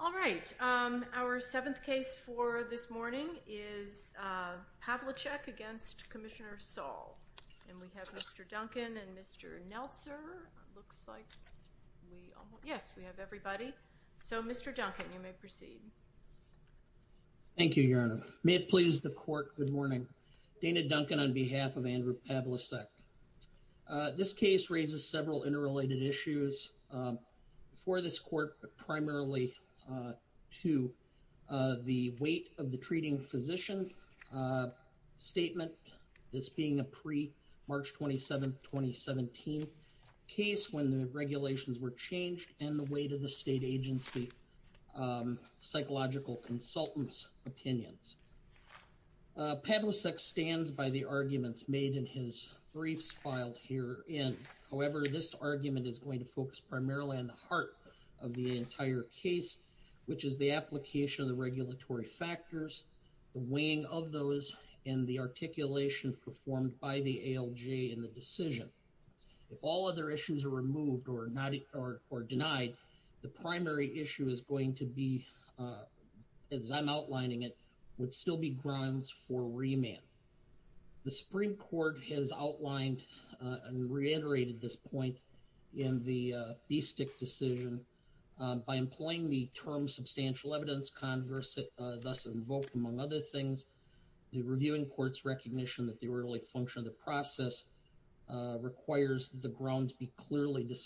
All right, our seventh case for this morning is Pavlicek v. Commissioner Saul. And we have Mr. Duncan and Mr. Neltzer. It looks like we have everybody. So, Mr. Duncan, you may proceed. Thank you, Your Honor. May it please the Court, good morning. Dana Duncan on behalf of Andrew Pavlicek. This case raises several interrelated issues. First, for this Court, primarily to the weight of the treating physician statement. This being a pre-March 27, 2017 case when the regulations were changed and the weight of the state agency psychological consultants' opinions. Pavlicek stands by the arguments made in his briefs filed herein. However, this argument is going to focus primarily on the heart of the entire case, which is the application of the regulatory factors, the weighing of those, and the articulation performed by the ALJ in the decision. If all other issues are removed or denied, the primary issue is going to be, as I'm outlining it, would still be grounds for remand. The Supreme Court has outlined and reiterated this point in the BSTIC decision. By employing the term substantial evidence, thus invoked among other things, the reviewing court's recognition that the early function of the process requires the grounds be clearly discussed.